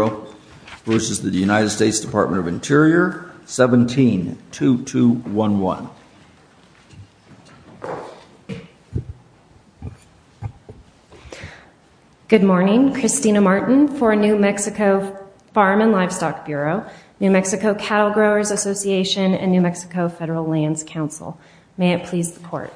United States Dept of Interior, 17-2211. Good morning, Christina Martin for New Mexico Farm & Livestock Bureau, New Mexico Cattle Growers Association and New Mexico Federal Lands Council. May it please the Court.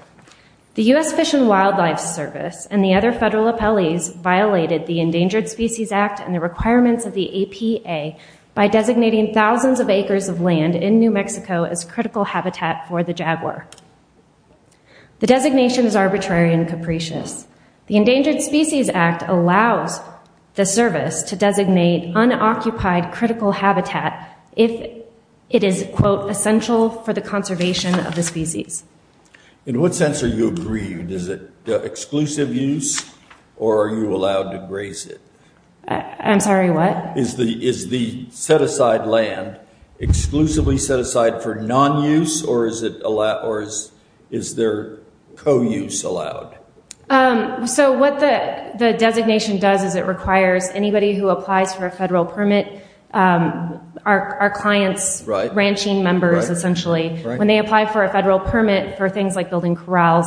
The U.S. Fish and Wildlife Service and the other federal appellees violated the Endangered Species Act and the requirements of the APA by designating thousands of acres of land in New Mexico as critical habitat for the jaguar. The designation is arbitrary and capricious. The Endangered Species Act allows the service to designate unoccupied critical habitat if it is, quote, essential for the conservation of the species. In what sense are you aggrieved? Is it exclusive use or are you allowed to graze it? I'm sorry, what? Is the set-aside land exclusively set aside for non-use or is there co-use allowed? So what the designation does is it requires anybody who applies for a federal permit, our clients, ranching members essentially, when they apply for a federal permit for things like building corrals,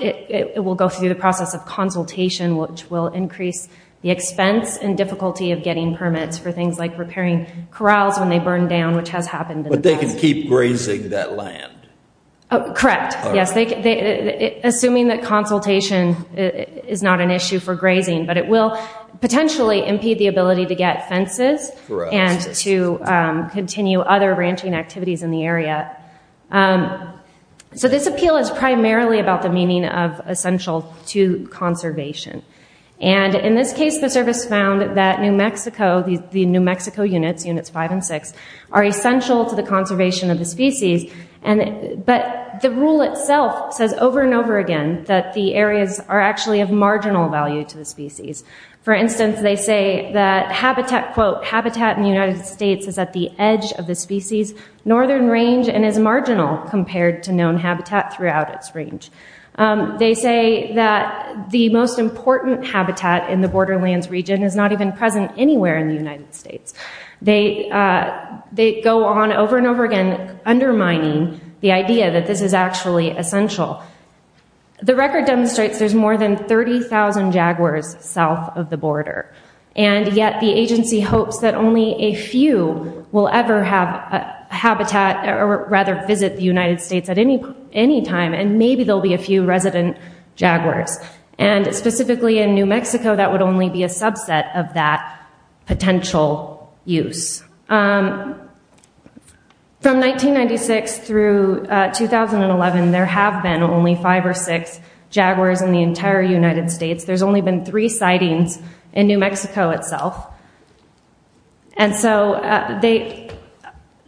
it will go through the process of consultation, which will increase the expense and difficulty of getting permits for things like repairing corrals when they burn down, which has happened in the past. But they can keep grazing that land? Correct, yes. Assuming that consultation is not an issue for grazing, but it will potentially impede the ability to get fences and to continue other ranching activities in the area. So this appeal is primarily about the meaning of essential to conservation. And in this case, the service found that New Mexico, the New Mexico units, Units 5 and 6, are essential to the conservation of the species, but the rule itself says over and over again that the areas are actually of marginal value to the species. For instance, they say that, quote, habitat in the United States is at the edge of the species northern range and is marginal compared to known habitat throughout its range. They say that the most important habitat in the borderlands region is not even present anywhere in the United States. They go on over and over again undermining the idea that this is actually essential. The record demonstrates there's more than 30,000 jaguars south of the border, and yet the agency hopes that only a few will ever have habitat or rather visit the United States at any time, and maybe there'll be a few resident jaguars. And specifically in New Mexico, that would only be a subset of that potential use. From 1996 through 2011, there have been only five or six jaguars in the entire United States. There's only been three sightings in New Mexico itself. And so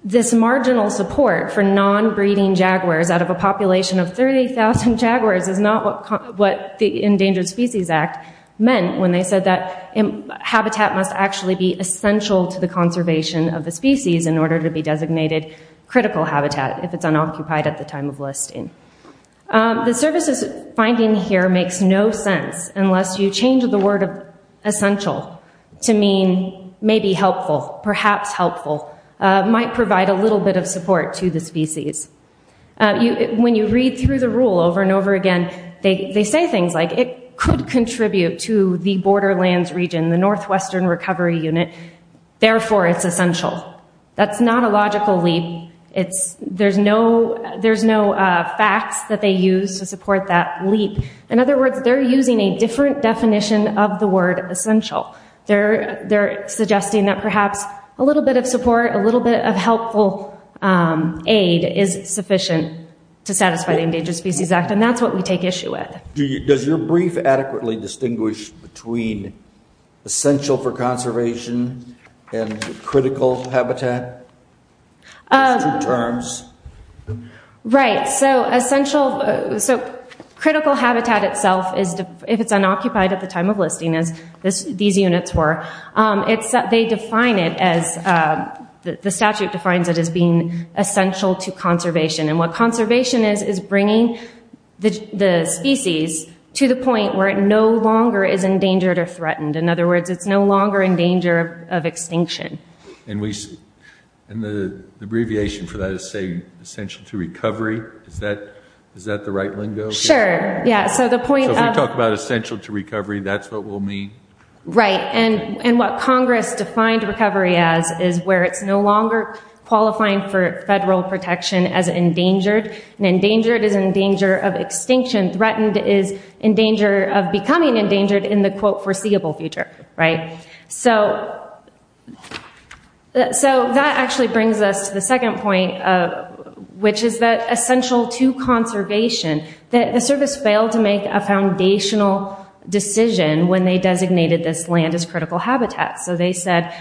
this marginal support for non-breeding jaguars out of a population of 30,000 jaguars is not what the Endangered Species Act meant when they said that habitat must actually be essential to the conservation of the species in order to be designated critical habitat if it's unoccupied at the time of listing. The services finding here makes no sense unless you change the word of essential to mean maybe helpful, perhaps helpful, might provide a little bit of support to the species. When you read through the rule over and over again, they say things like it could contribute to the borderlands region, the Northwestern Recovery Unit, therefore it's essential. That's not a logical leap. There's no facts that they use to support that leap. In other words, they're using a different definition of the word essential. They're suggesting that perhaps a little bit of support, a little bit of helpful aid is sufficient to satisfy the Endangered Species Act, and that's what we take issue with. Does your brief adequately distinguish between essential for conservation and critical habitat? Right. So critical habitat itself, if it's unoccupied at the time of listing as these units were, they define it as, the statute defines it as being essential to conservation. And what conservation is, is bringing the species to the point where it no longer is endangered or threatened. In other words, it's no longer in danger of extinction. And the abbreviation for that is, say, essential to recovery. Is that the right lingo? Sure. Yeah, so the point of So when you talk about essential to recovery, that's what we'll mean? Right. And what Congress defined recovery as is where it's no longer qualifying for federal protection as endangered. And endangered is in danger of extinction. Threatened is in danger of becoming endangered in the, quote, foreseeable future. Right? So that actually brings us to the second point, which is that essential to conservation. The service failed to make a foundational decision when they designated this land as critical habitat. So they said,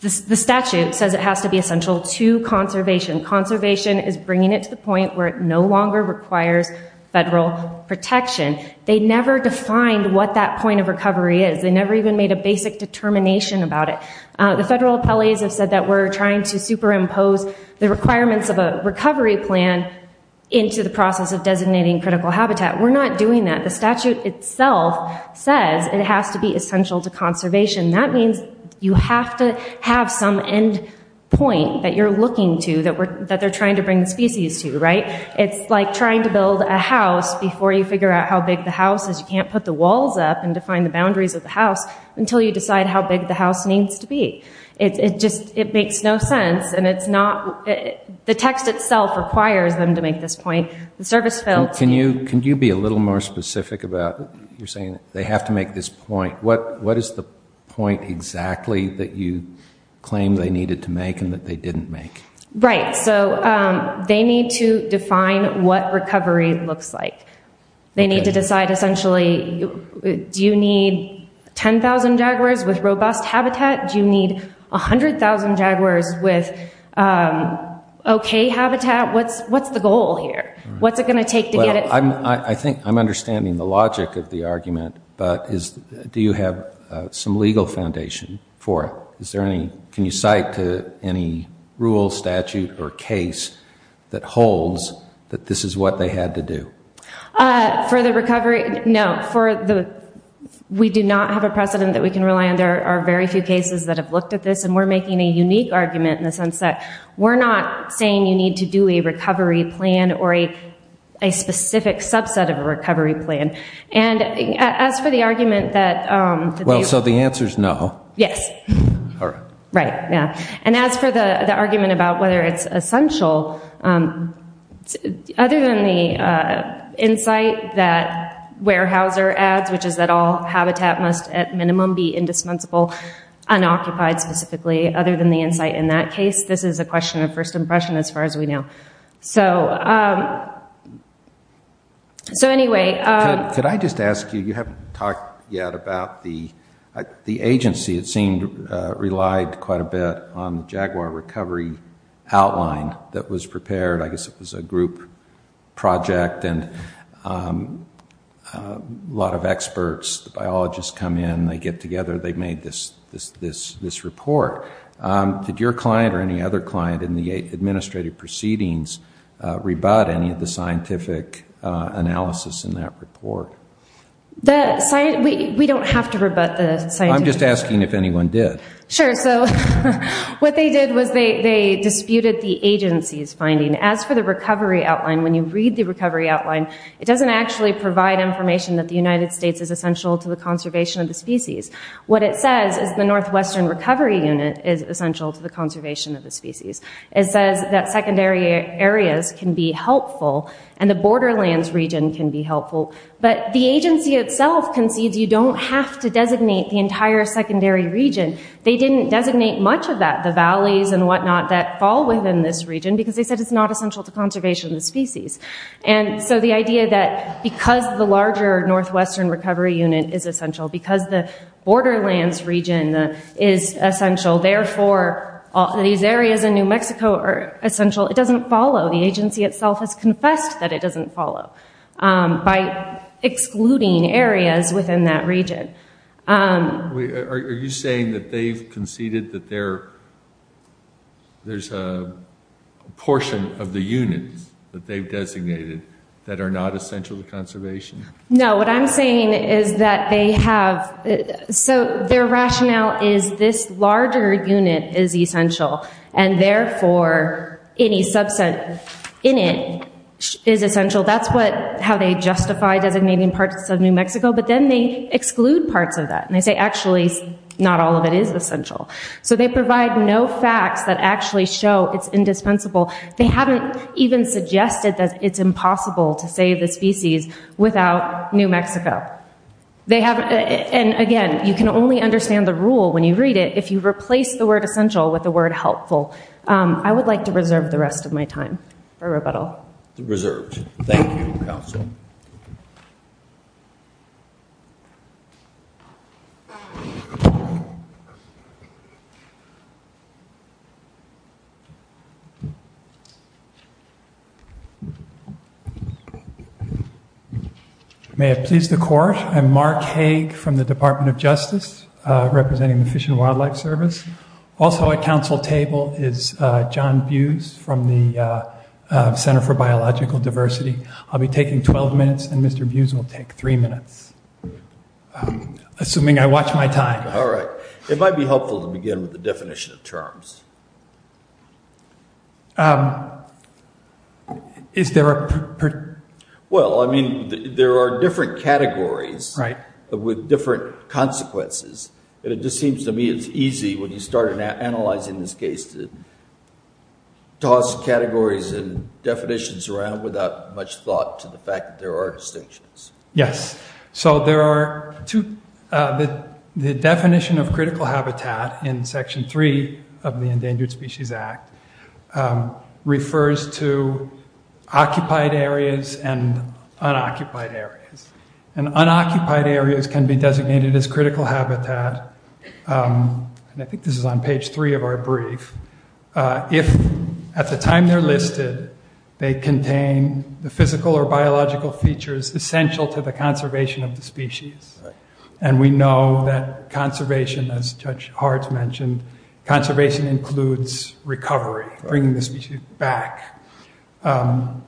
the statute says it has to be essential to conservation. Conservation is bringing it to the point where it no longer requires federal protection. They never defined what that point of recovery is. They never even made a basic determination about it. The federal appellees have said that we're trying to superimpose the requirements of a recovery plan into the process of designating critical habitat. We're not doing that. The statute itself says it has to be essential to conservation. That means you have to have some end point that you're looking to, that they're trying to bring the species to. Right? It's like trying to build a house before you figure out how big the house is. You can't put the walls up and define the boundaries of the house until you decide how big the house needs to be. It just, it makes no sense. And it's not, the text itself requires them to make this point. Can you be a little more specific about, you're saying they have to make this point. What is the point exactly that you claim they needed to make and that they didn't make? Right. So they need to define what recovery looks like. They need to decide essentially, do you need 10,000 jaguars with robust habitat? Do you need 100,000 jaguars with okay habitat? What's the goal here? What's it going to take to get it? I think I'm understanding the logic of the argument, but do you have some legal foundation for it? Is there any, can you cite to any rule, statute, or case that holds that this is what they had to do? For the recovery, no. For the, we do not have a precedent that we can rely on. There are very few cases that have looked at this and we're making a unique argument in the sense that we're not saying you need to do a recovery plan or a specific subset of a recovery plan. As for the argument that... Well, so the answer's no. Yes. All right. Right. Yeah. And as for the argument about whether it's essential, other than the insight that Weyerhaeuser adds, which is that all habitat must at minimum be indispensable, unoccupied specifically, other than the insight in that case, this is a question of first impression as far as we know. So anyway... Could I just ask you, you haven't talked yet about the agency. It seemed relied quite a bit on the Jaguar recovery outline that was prepared. I guess it was a group project and a lot of experts, biologists come in, they get together, they've made this report. Did your client or any other client in the administrative proceedings rebut any of the scientific analysis in that report? We don't have to rebut the scientific... I'm just asking if anyone did. Sure. So what they did was they disputed the agency's finding. As for the recovery outline, when you read the recovery outline, it doesn't actually provide information that the United States is essential to the conservation of the species. What it says is the Northwestern Recovery Unit is essential to the conservation of the species. It says that secondary areas can be helpful and the borderlands region can be helpful. But the agency itself concedes you don't have to designate the entire secondary region. They didn't designate much of that, the valleys and whatnot that fall within this region, because they said it's not essential to conservation of the species. And so the idea that because the larger Northwestern Recovery Unit is essential, because the borderlands region is essential, therefore these areas in New Mexico are essential, it doesn't follow. The agency itself has confessed that it doesn't follow by excluding areas within that region. Are you saying that they've conceded that there's a portion of the units that they've designated that are not essential to conservation? No, what I'm saying is that they have, so their rationale is this larger unit is essential and therefore any subset in it is essential. That's how they justify designating parts of New Mexico, but then they exclude parts of that. And they say actually not all of it is essential. So they provide no facts that actually show it's indispensable. They haven't even suggested that it's impossible to save the species without New Mexico. And again, you can only understand the rule when you read it if you replace the word essential with the word helpful. I would like to reserve the rest of my time for rebuttal. Thank you, counsel. May it please the court, I'm Mark Hague from the Department of Justice, representing the Fish and Wildlife Service. Also at counsel table is John Buse from the Center for Biological Diversity. I'll be taking 12 minutes and Mr. Buse will take three minutes, assuming I watch my time. All right. It might be helpful to begin with the definition of terms. Well, I mean, there are different categories with different consequences. And it just seems to me it's easy when you start analyzing this case to toss categories and definitions around without much thought to the fact that there are distinctions. Yes. So there are two, the definition of critical habitat in Section 3 of the Endangered Species Act refers to occupied areas and unoccupied areas. And unoccupied areas can be designated as critical habitat. And I think this is on page three of our brief. If at the time they're listed, they contain the physical or biological features essential to the conservation of the species. And we know that conservation, as Judge Hart mentioned, conservation includes recovery, bringing the species back. And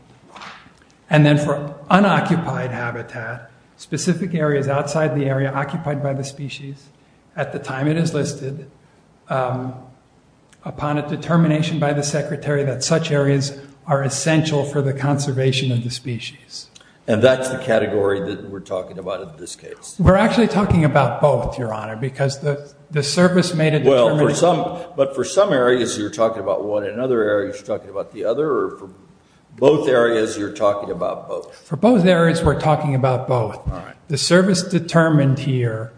then for unoccupied habitat, specific areas outside the area occupied by the species, at the time it is listed, upon a determination by the Secretary that such areas are essential for the conservation of the species. And that's the category that we're talking about in this case. We're actually talking about both, Your Honor, because the service made a determination. But for some areas you're talking about one, in other areas you're talking about the other, or for both areas you're talking about both? For both areas we're talking about both. The service determined here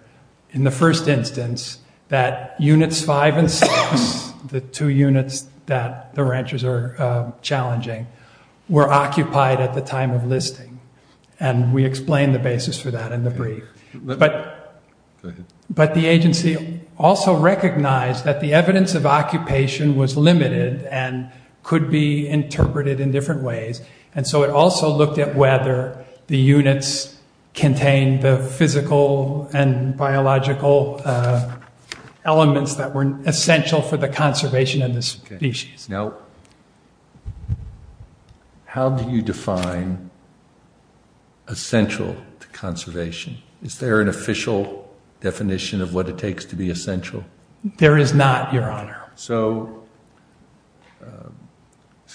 in the first instance that Units 5 and 6, the two units that the ranchers are challenging, were occupied at the time of listing. And we explained the basis for that in the brief. But the agency also recognized that the evidence of occupation was limited and could be interpreted in different ways, and so it also looked at whether the units contained the physical and biological elements that were essential for the conservation of the species. Now, how do you define essential to conservation? Is there an official definition of what it takes to be essential? There is not, Your Honor. So,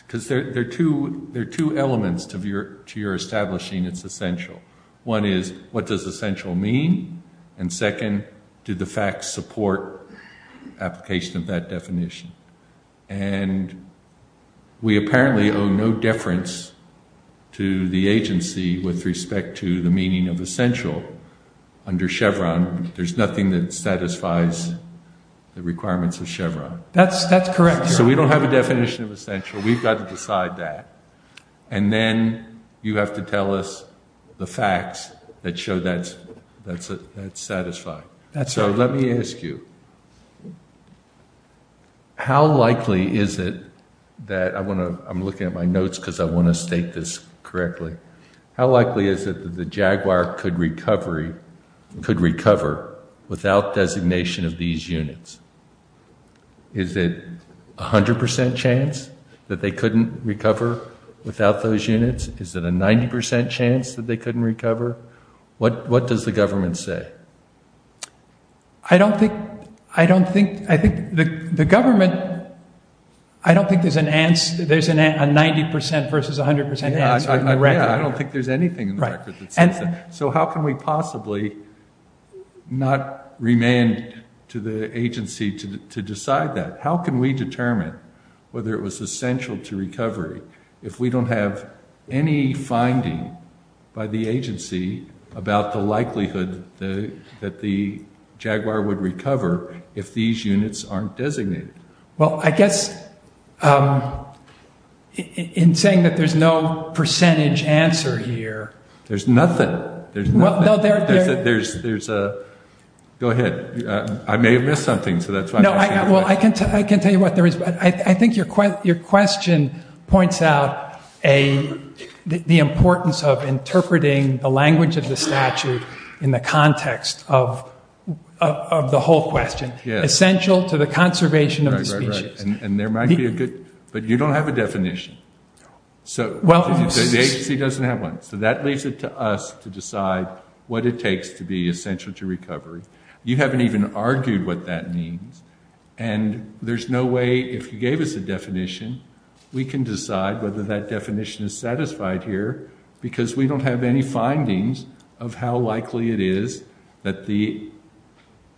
because there are two elements to your establishing it's essential. One is, what does essential mean? And we apparently owe no deference to the agency with respect to the meaning of essential under Chevron. There's nothing that satisfies the requirements of Chevron. That's correct, Your Honor. So we don't have a definition of essential. We've got to decide that. And then you have to tell us the facts that show that's satisfied. So let me ask you, how likely is it that, I'm looking at my notes because I want to state this correctly, how likely is it that the jaguar could recover without designation of these units? Is it a 100% chance that they couldn't recover without those units? Is it a 90% chance that they couldn't recover? What does the government say? I don't think there's a 90% versus 100% answer in the record. I don't think there's anything in the record that says that. So how can we possibly not remain to the agency to decide that? How can we determine whether it was essential to recovery if we don't have any finding by the agency about the likelihood that the jaguar would recover if these units aren't designated? Well, I guess in saying that there's no percentage answer here. There's nothing. There's nothing. There's a go ahead. I may have missed something, so that's fine. I can tell you what there is. I think your question points out the importance of interpreting the language of the statute in the context of the whole question, essential to the conservation of the species. And there might be a good, but you don't have a definition. So the agency doesn't have one. So that leaves it to us to decide what it takes to be essential to recovery. You haven't even argued what that means. And there's no way, if you gave us a definition, we can decide whether that definition is satisfied here because we don't have any findings of how likely it is that the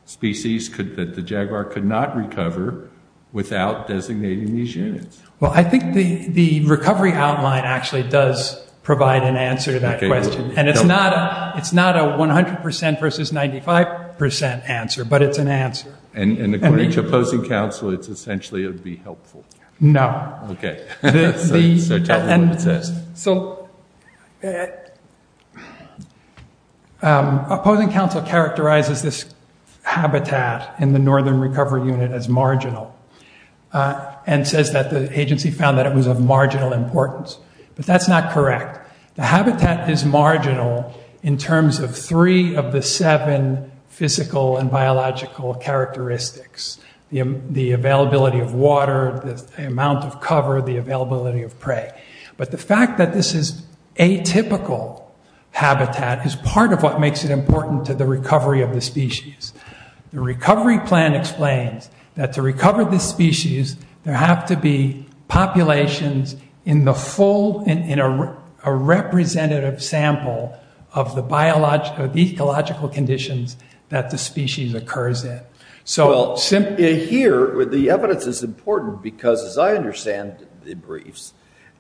species, that the jaguar could not recover without designating these units. Well, I think the recovery outline actually does provide an answer to that question. And it's not a 100% versus 95% answer, but it's an answer. And according to opposing counsel, it's essentially it would be helpful. No. Okay. So tell me what it says. So opposing counsel characterizes this habitat in the northern recovery unit as marginal and says that the agency found that it was of marginal importance. But that's not correct. The habitat is marginal in terms of three of the seven physical and biological characteristics, the availability of water, the amount of cover, the availability of prey. But the fact that this is atypical habitat is part of what makes it important to the recovery of the species. The recovery plan explains that to recover the species, there have to be populations in the full, in a representative sample of the ecological conditions that the species occurs in. Well, here, the evidence is important because, as I understand the briefs,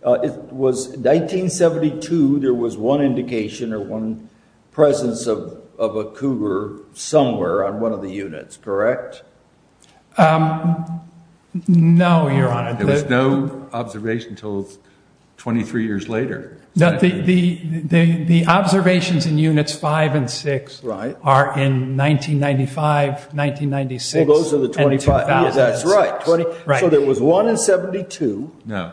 it was 1972, there was one indication or one presence of a cougar somewhere on one of the units, correct? No, Your Honor. There was no observation until 23 years later. The observations in units 5 and 6 are in 1995, 1996, and 2000. That's right. So there was one in 72. No.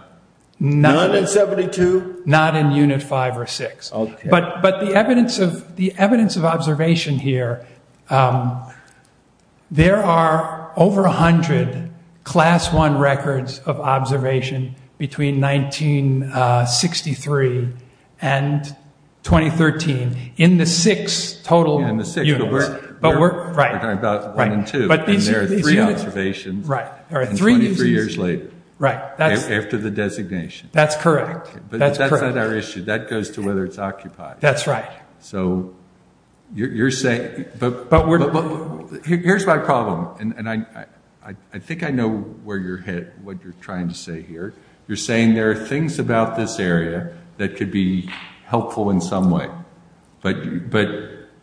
None in 72? Not in unit 5 or 6. But the evidence of observation here, there are over 100 Class I records of observation between 1963 and 2013, in the six total units. We're talking about 1 and 2, and there are three observations 23 years later, after the designation. That's correct. But that's not our issue. That goes to whether it's occupied. That's right. So you're saying, but here's my problem, and I think I know where you're hit, what you're trying to say here. You're saying there are things about this area that could be helpful in some way, but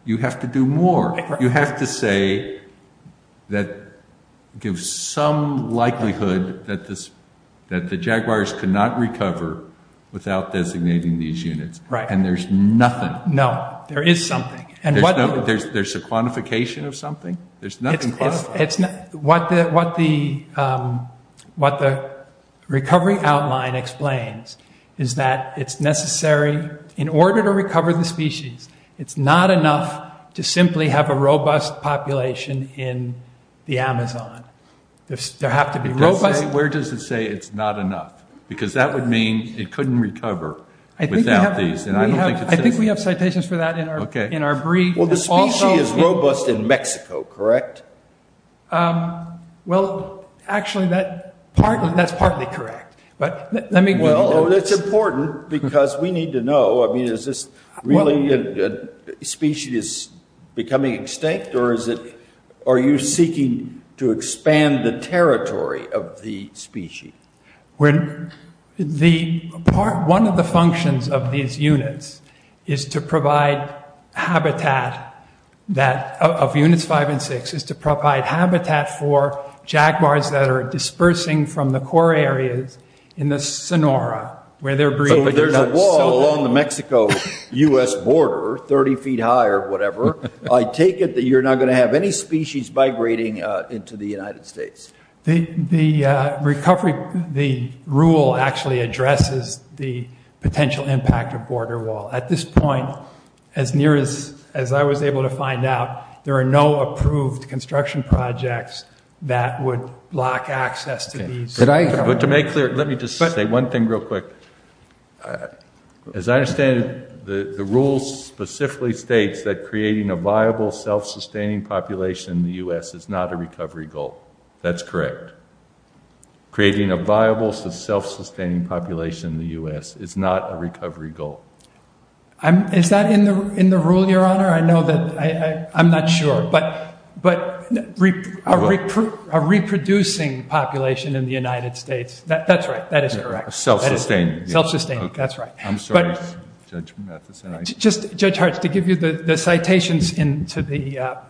you have to do more. You have to say that it gives some likelihood that the Jaguars could not recover without designating these units, and there's nothing. No. There is something. There's a quantification of something? There's nothing quantified. What the recovery outline explains is that it's necessary, in order to recover the species, it's not enough to simply have a robust population in the Amazon. There have to be robust. Where does it say it's not enough? Because that would mean it couldn't recover without these, and I don't think it says that. I think we have citations for that in our brief. Well, the species is robust in Mexico, correct? Well, actually, that's partly correct. Well, that's important, because we need to know. I mean, is this really a species becoming extinct, or are you seeking to expand the territory of the species? One of the functions of these units is to provide habitat, of units five and six, is to provide habitat for Jaguars that are dispersing from the core areas in the Sonora, where they're breeding. So if there's a wall along the Mexico-U.S. border, 30 feet high or whatever, I take it that you're not going to have any species migrating into the United States. The rule actually addresses the potential impact of border wall. At this point, as near as I was able to find out, there are no approved construction projects that would block access to these. Let me just say one thing real quick. As I understand it, the rule specifically states that creating a viable, self-sustaining population in the U.S. is not a recovery goal. That's correct. Creating a viable, self-sustaining population in the U.S. is not a recovery goal. Is that in the rule, Your Honor? Your Honor, I'm not sure, but a reproducing population in the United States, that's right, that is correct. Self-sustaining. Self-sustaining, that's right. I'm sorry, Judge Matheson. Judge Hartz, to give you the citations that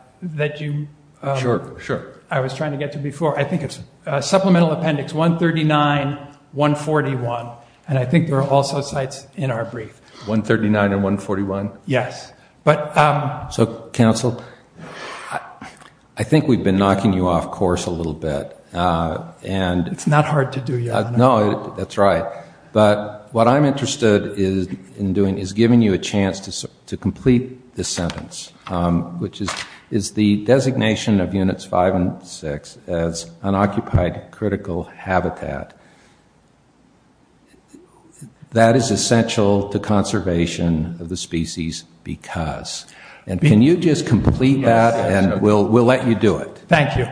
I was trying to get to before, I think it's Supplemental Appendix 139, 141, and I think there are also cites in our brief. 139 and 141? Yes. So, counsel, I think we've been knocking you off course a little bit. It's not hard to do, Your Honor. No, that's right. But what I'm interested in doing is giving you a chance to complete this sentence, which is the designation of Units 5 and 6 as unoccupied critical habitat. That is essential to conservation of the species because. And can you just complete that and we'll let you do it. Thank you.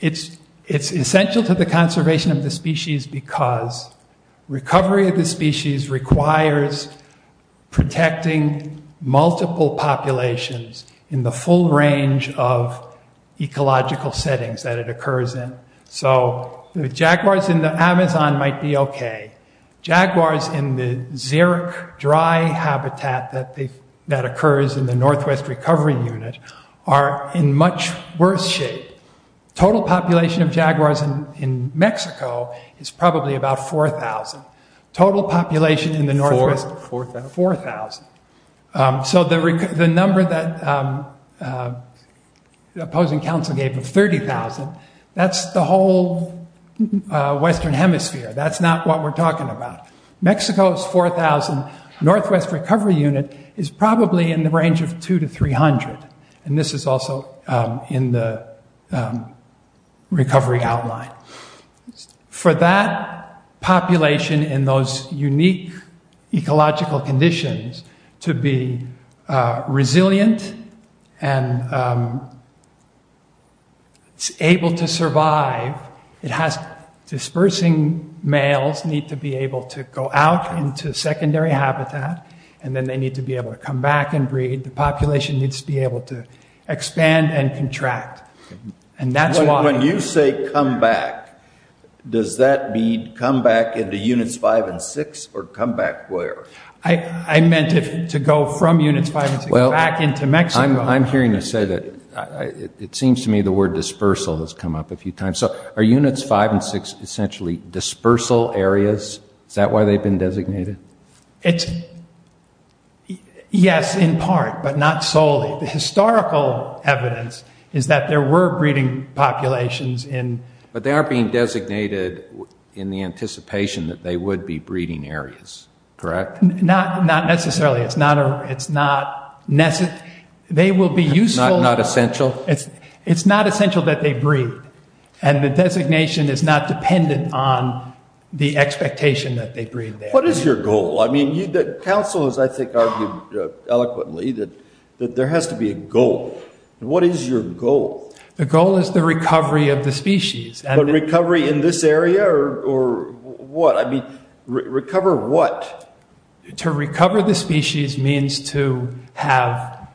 It's essential to the conservation of the species because recovery of the species requires protecting multiple populations in the full range of ecological settings that it occurs in. So the jaguars in the Amazon might be okay. Jaguars in the Xeric dry habitat that occurs in the Northwest Recovery Unit are in much worse shape. Total population of jaguars in Mexico is probably about 4,000. Total population in the Northwest is 4,000. So the number that opposing counsel gave of 30,000, that's the whole western hemisphere. That's not what we're talking about. Mexico is 4,000. Northwest Recovery Unit is probably in the range of 200 to 300. And this is also in the recovery outline. For that population in those unique ecological conditions to be resilient and able to survive, it has dispersing males need to be able to go out into secondary habitat, and then they need to be able to come back and breed. The population needs to be able to expand and contract. When you say come back, does that mean come back into Units 5 and 6 or come back where? I meant to go from Units 5 and 6 back into Mexico. I'm hearing you say that. It seems to me the word dispersal has come up a few times. So are Units 5 and 6 essentially dispersal areas? Is that why they've been designated? Yes, in part, but not solely. The historical evidence is that there were breeding populations. But they are being designated in the anticipation that they would be breeding areas, correct? Not necessarily. They will be useful. Not essential? It's not essential that they breed, and the designation is not dependent on the expectation that they breed there. What is your goal? Council has, I think, argued eloquently that there has to be a goal. What is your goal? The goal is the recovery of the species. But recovery in this area or what? I mean, recover what? To recover the species means to have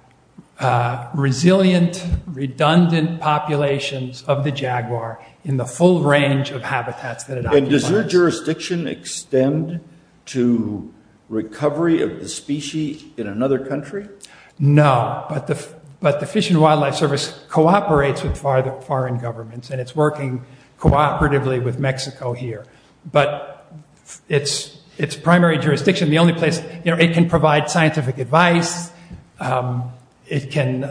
resilient, redundant populations of the jaguar in the full range of habitats that it occupies. And does your jurisdiction extend to recovery of the species in another country? No, but the Fish and Wildlife Service cooperates with foreign governments, and it's working cooperatively with Mexico here. But its primary jurisdiction, the only place, you know, it can provide scientific advice. It can,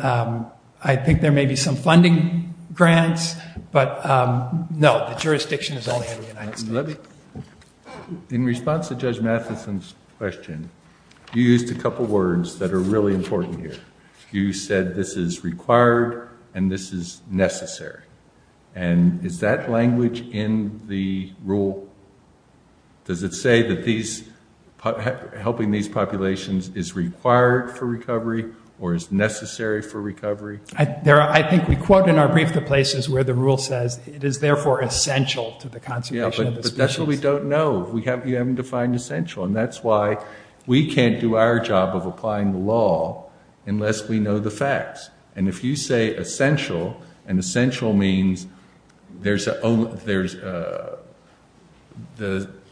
I think there may be some funding grants, but no, the jurisdiction is only in the United States. In response to Judge Matheson's question, you used a couple words that are really important here. You said this is required and this is necessary. And is that language in the rule? Does it say that helping these populations is required for recovery or is necessary for recovery? I think we quote in our brief the places where the rule says it is therefore essential to the conservation of the species. Yeah, but that's what we don't know. You haven't defined essential. And that's why we can't do our job of applying the law unless we know the facts. And if you say essential, and essential means the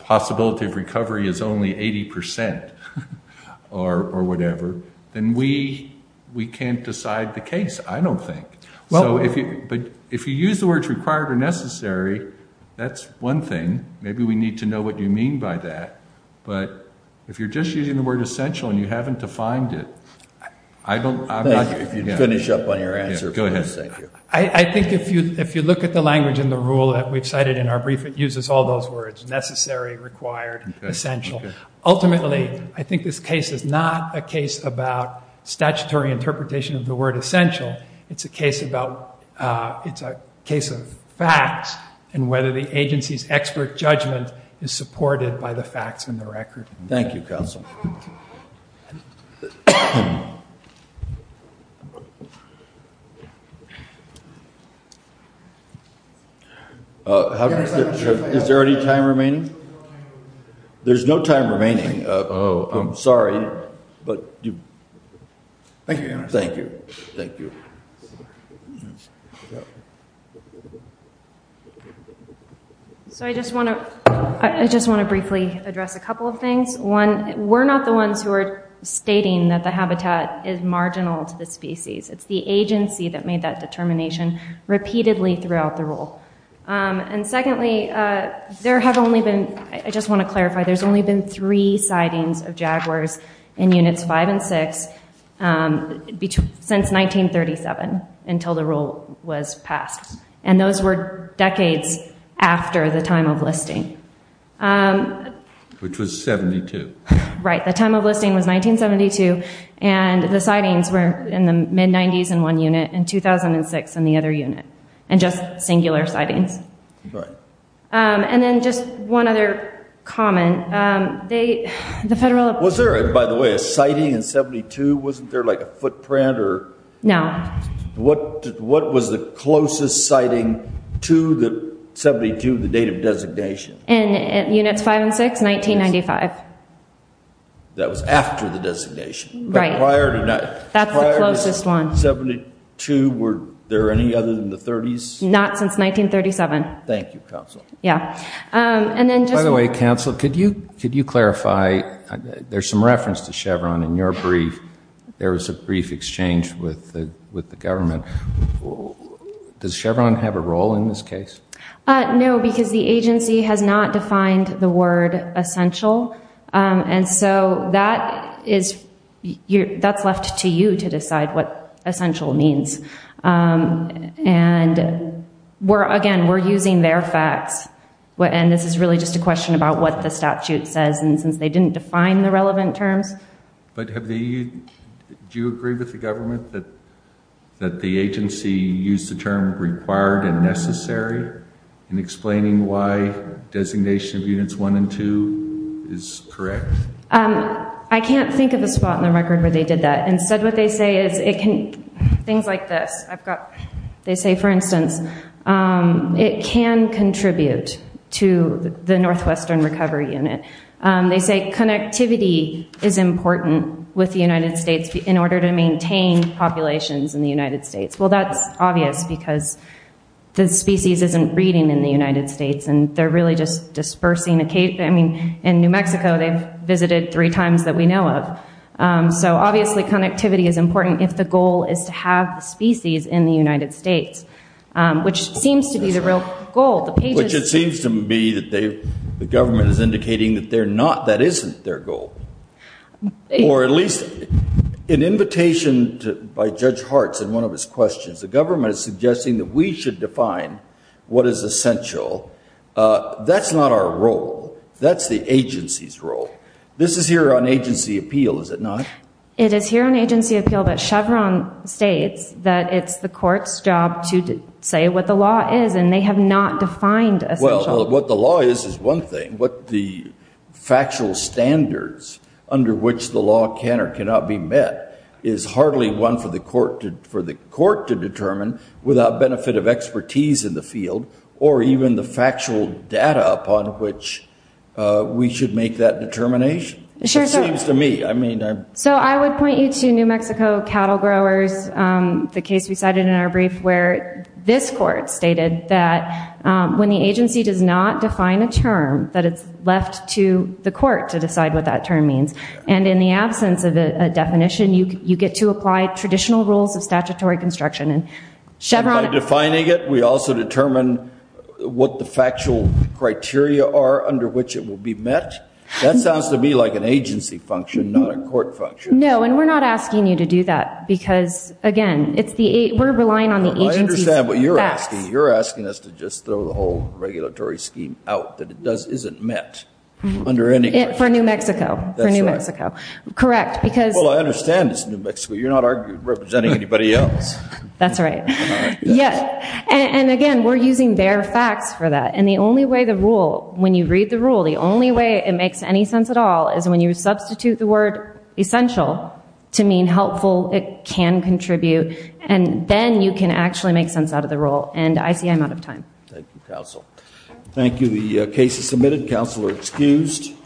possibility of recovery is only 80 percent or whatever, then we can't decide the case, I don't think. But if you use the words required or necessary, that's one thing. Maybe we need to know what you mean by that. But if you're just using the word essential and you haven't defined it, I'm not sure. If you'd finish up on your answer, please. Go ahead. I think if you look at the language in the rule that we've cited in our brief, it uses all those words, necessary, required, essential. Ultimately, I think this case is not a case about statutory interpretation of the word essential. It's a case of facts and whether the agency's expert judgment is supported by the facts in the record. Thank you, counsel. Is there any time remaining? There's no time remaining. Oh, I'm sorry. Thank you. Thank you. So I just want to briefly address a couple of things. One, we're not the ones who are stating that the habitat is marginal to the species. It's the agency that made that determination repeatedly throughout the rule. And secondly, there have only been, I just want to clarify, there's only been three sightings of jaguars in Units 5 and 6 since 1937 until the rule was passed. And those were decades after the time of listing. Which was 72. Right. The time of listing was 1972, and the sightings were in the mid-90s in one unit and 2006 in the other unit. And just singular sightings. Right. And then just one other comment. Was there, by the way, a sighting in 72? Wasn't there like a footprint or? No. What was the closest sighting to the 72, the date of designation? In Units 5 and 6, 1995. That was after the designation. Right. That's the closest one. 1972, were there any other than the 30s? Not since 1937. Thank you, Counsel. Yeah. By the way, Counsel, could you clarify, there's some reference to Chevron in your brief. There was a brief exchange with the government. Does Chevron have a role in this case? No, because the agency has not defined the word essential. And so that's left to you to decide what essential means. And, again, we're using their facts. And this is really just a question about what the statute says, and since they didn't define the relevant terms. But do you agree with the government that the agency used the term required and necessary in explaining why designation of Units 1 and 2 is correct? I can't think of a spot in the record where they did that. Instead, what they say is things like this. They say, for instance, it can contribute to the Northwestern Recovery Unit. They say connectivity is important with the United States in order to maintain populations in the United States. Well, that's obvious, because the species isn't breeding in the United States, and they're really just dispersing. I mean, in New Mexico, they've visited three times that we know of. So, obviously, connectivity is important if the goal is to have the species in the United States, which seems to be the real goal. Which it seems to be that the government is indicating that that isn't their goal. Or at least an invitation by Judge Hartz in one of his questions, the government is suggesting that we should define what is essential. That's not our role. That's the agency's role. This is here on agency appeal, is it not? It is here on agency appeal, but Chevron states that it's the court's job to say what the law is, and they have not defined essential. Well, what the law is is one thing, but the factual standards under which the law can or cannot be met is hardly one for the court to determine without benefit of expertise in the field or even the factual data upon which we should make that determination, it seems to me. So I would point you to New Mexico cattle growers, the case we cited in our brief, where this court stated that when the agency does not define a term, that it's left to the court to decide what that term means. And in the absence of a definition, you get to apply traditional rules of statutory construction. By defining it, we also determine what the factual criteria are under which it will be met? That sounds to me like an agency function, not a court function. No, and we're not asking you to do that. Because, again, we're relying on the agency's facts. I understand what you're asking. You're asking us to just throw the whole regulatory scheme out that it isn't met under any question. For New Mexico. That's right. Correct. Well, I understand it's New Mexico. You're not representing anybody else. That's right. And, again, we're using their facts for that. And the only way the rule, when you read the rule, the only way it makes any sense at all is when you And then you can actually make sense out of the rule. And I see I'm out of time. Thank you, counsel. Thank you. The case is submitted. Counsel are excused.